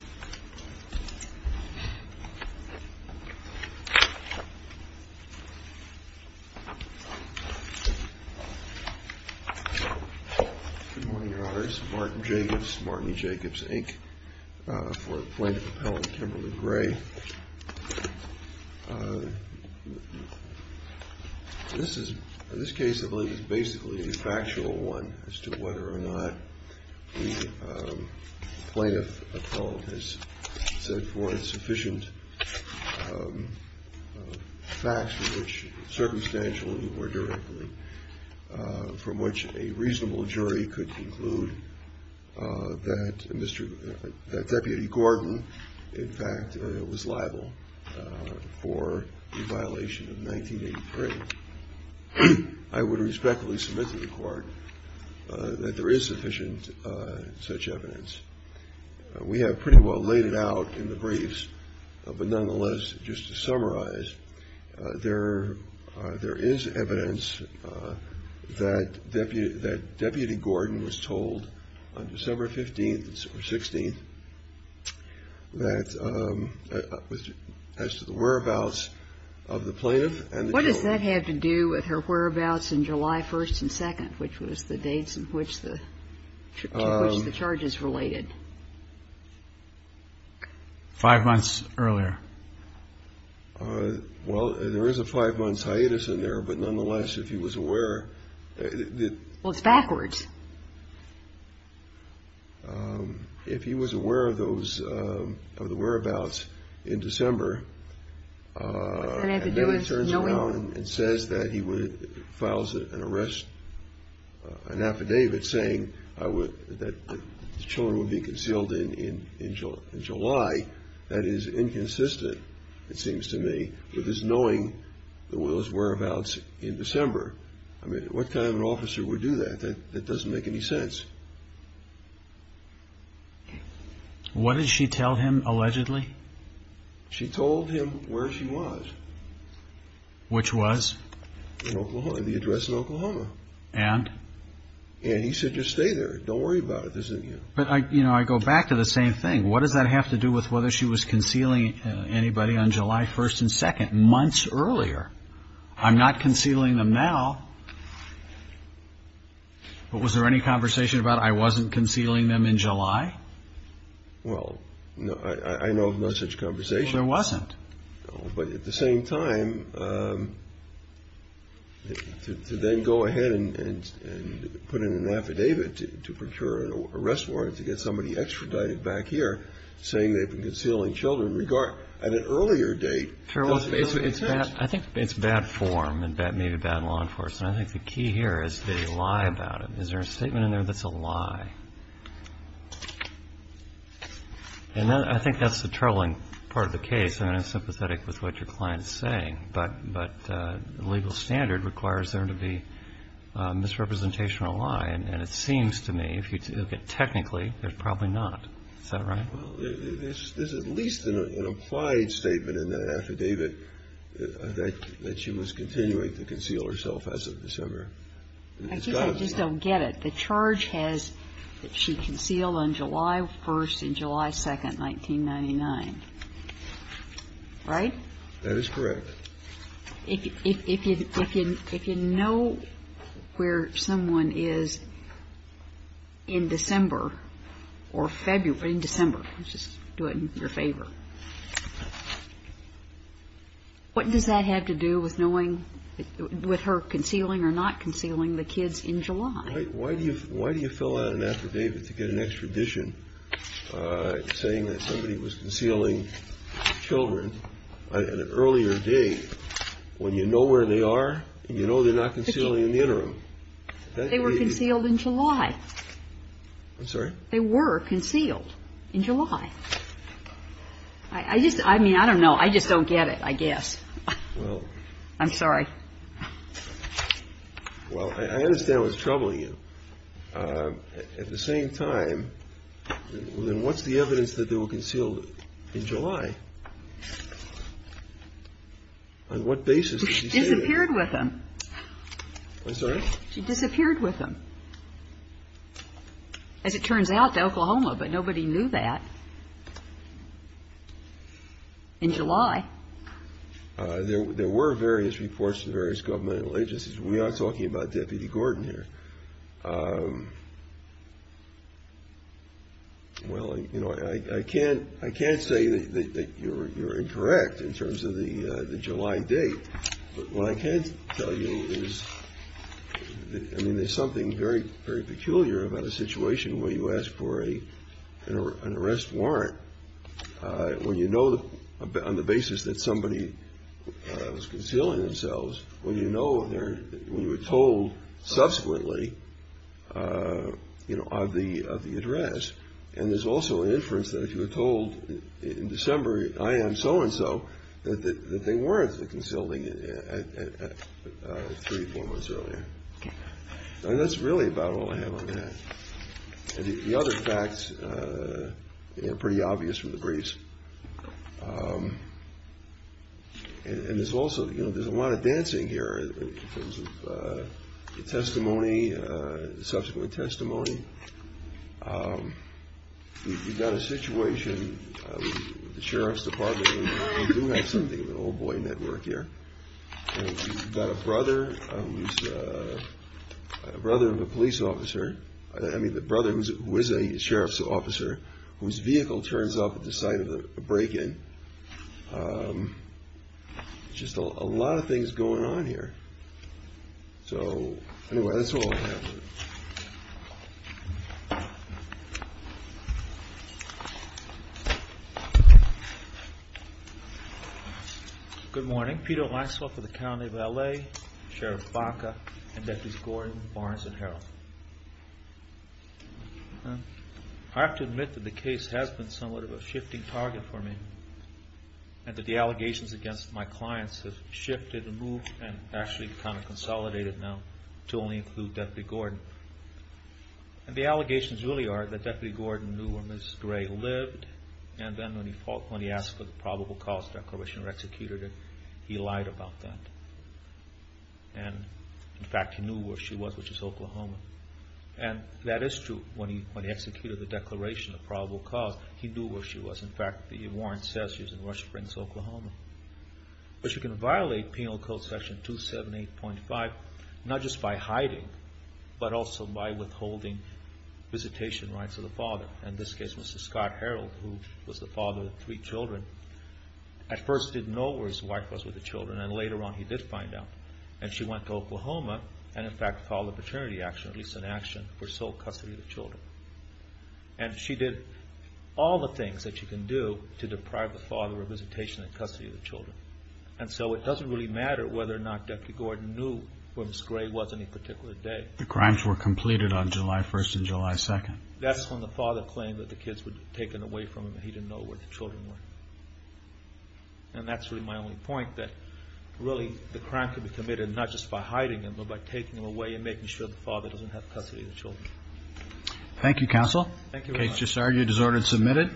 Good morning, Your Honors. Martin Jacobs, Martin Jacobs, Inc. for Plaintiff Appellant Kimberly Gray. This case, I believe, is basically a factual one as to whether or not the Plaintiff Appellant has set forth sufficient facts which, circumstantial or indirectly, from which a reasonable jury could conclude that Mr. – that Deputy Gordon, in fact, was liable for the violation of 1983. I would respectfully submit to the Court that there is sufficient such evidence. We have pretty well laid it out in the briefs, but nonetheless, just to summarize, there is evidence that Deputy Gordon was told on December 15th or 16th that as to the whereabouts of the plaintiff and the jury. What does that have to do with her whereabouts in July 1st and 2nd, which was the dates in which the charges related? Five months earlier. Well, there is a five-month hiatus in there, but nonetheless, if he was aware that – Well, it's backwards. If he was aware of those – of the whereabouts in December, and then he turns around and says that he would – files an arrest – an affidavit saying I would – that the children would be concealed in July, that is inconsistent, it seems to me, with his knowing the whereabouts in December. I mean, what kind of an officer would do that? That doesn't make any sense. What did she tell him, allegedly? She told him where she was. Which was? In Oklahoma, the address in Oklahoma. And? And he said, just stay there. Don't worry about it. There's a – But I – you know, I go back to the same thing. What does that have to do with whether she was concealing anybody on July 1st and 2nd, months earlier? I'm not concealing them now. But was there any conversation about I wasn't concealing them in July? Well, no – I know of no such conversation. Well, there wasn't. No, but at the same time, to then go ahead and put in an affidavit to procure an arrest warrant to get somebody extradited back here, saying they've been concealing children in regard – at an earlier date doesn't make any sense. I think it's bad form and maybe bad law enforcement. I think the key here is they lie about it. Is there a statement in there that's a lie? And I think that's the troubling part of the case. I mean, I'm sympathetic with what your client's saying. But the legal standard requires there to be misrepresentation of a lie. And it seems to me, if you look at it technically, there's probably not. Is that right? Well, there's at least an implied statement in that affidavit that she was continuing to conceal herself as of December. I just don't get it. The charge has that she concealed on July 1st and July 2nd, 1999. Right? That is correct. If you know where someone is in December or February – in December. Just do it in your favor. What does that have to do with knowing – with her concealing or not concealing the kids in July? Why do you fill out an affidavit to get an extradition saying that somebody was concealing children on an earlier date when you know where they are and you know they're not concealing in the interim? They were concealed in July. I'm sorry? They were concealed in July. I just – I mean, I don't know. I just don't get it, I guess. Well – I'm sorry. Well, I understand what's troubling you. At the same time, then what's the evidence that they were concealed in July? On what basis did she say that? She disappeared with them. I'm sorry? She disappeared with them. As it turns out, to Oklahoma, but nobody knew that in July. There were various reports to various governmental agencies. We are talking about Deputy Gordon here. Well, you know, I can't – I can't say that you're incorrect in terms of the July date, but what I can tell you is – I mean, there's something very, very peculiar about a situation where you ask for an arrest warrant when you know on the basis that somebody was concealing themselves, when you know when they're – when you were told subsequently, you know, of the address. And there's also an inference that if you were told in December, I am so-and-so, that they weren't concealing three, four months earlier. And that's really about all I have on that. The other facts are pretty obvious from the briefs. And there's also – you know, there's a lot of dancing here in terms of testimony, subsequent testimony. You've got a situation with the Sheriff's Department. We do have something of an old boy network here. And we've got a brother who's – a brother of a police officer – I mean, the brother who is a sheriff's officer whose vehicle turns up at the site of the break-in. Just a lot of things going on here. So anyway, that's all I have. Thank you. Good morning. Peter Lysolk with the County of L.A., Sheriff Baca, and Deputies Gordon, Barnes, and Harrell. I have to admit that the case has been somewhat of a shifting target for me. And that the allegations against my clients have shifted and moved and actually kind of consolidated now to only include Deputy Gordon. And the allegations really are that Deputy Gordon knew where Ms. Gray lived, and then when he asked for the probable cause declaration or executed it, he lied about that. And in fact, he knew where she was, which is Oklahoma. And that is true. When he executed the declaration of probable cause, he knew where she was. In fact, the warrant says she was in Rush Springs, Oklahoma. But you can violate Penal Code Section 278.5 not just by hiding, but also by withholding visitation rights of the father. In this case, Mr. Scott Harrell, who was the father of three children, at first didn't know where his wife was with the children, and later on he did find out. And she went to Oklahoma and in fact followed maternity action, at least an action for sole custody of the children. And she did all the things that she can do to deprive the father of visitation and custody of the children. And so it doesn't really matter whether or not Deputy Gordon knew where Ms. Gray was on any particular day. The crimes were completed on July 1st and July 2nd. That's when the father claimed that the kids were taken away from him and he didn't know where the children were. And that's really my only point, that really the crime can be committed not just by hiding them, but by taking them away and making sure the father doesn't have custody of the children. Thank you, Counsel. Thank you very much. The case is disordered and submitted.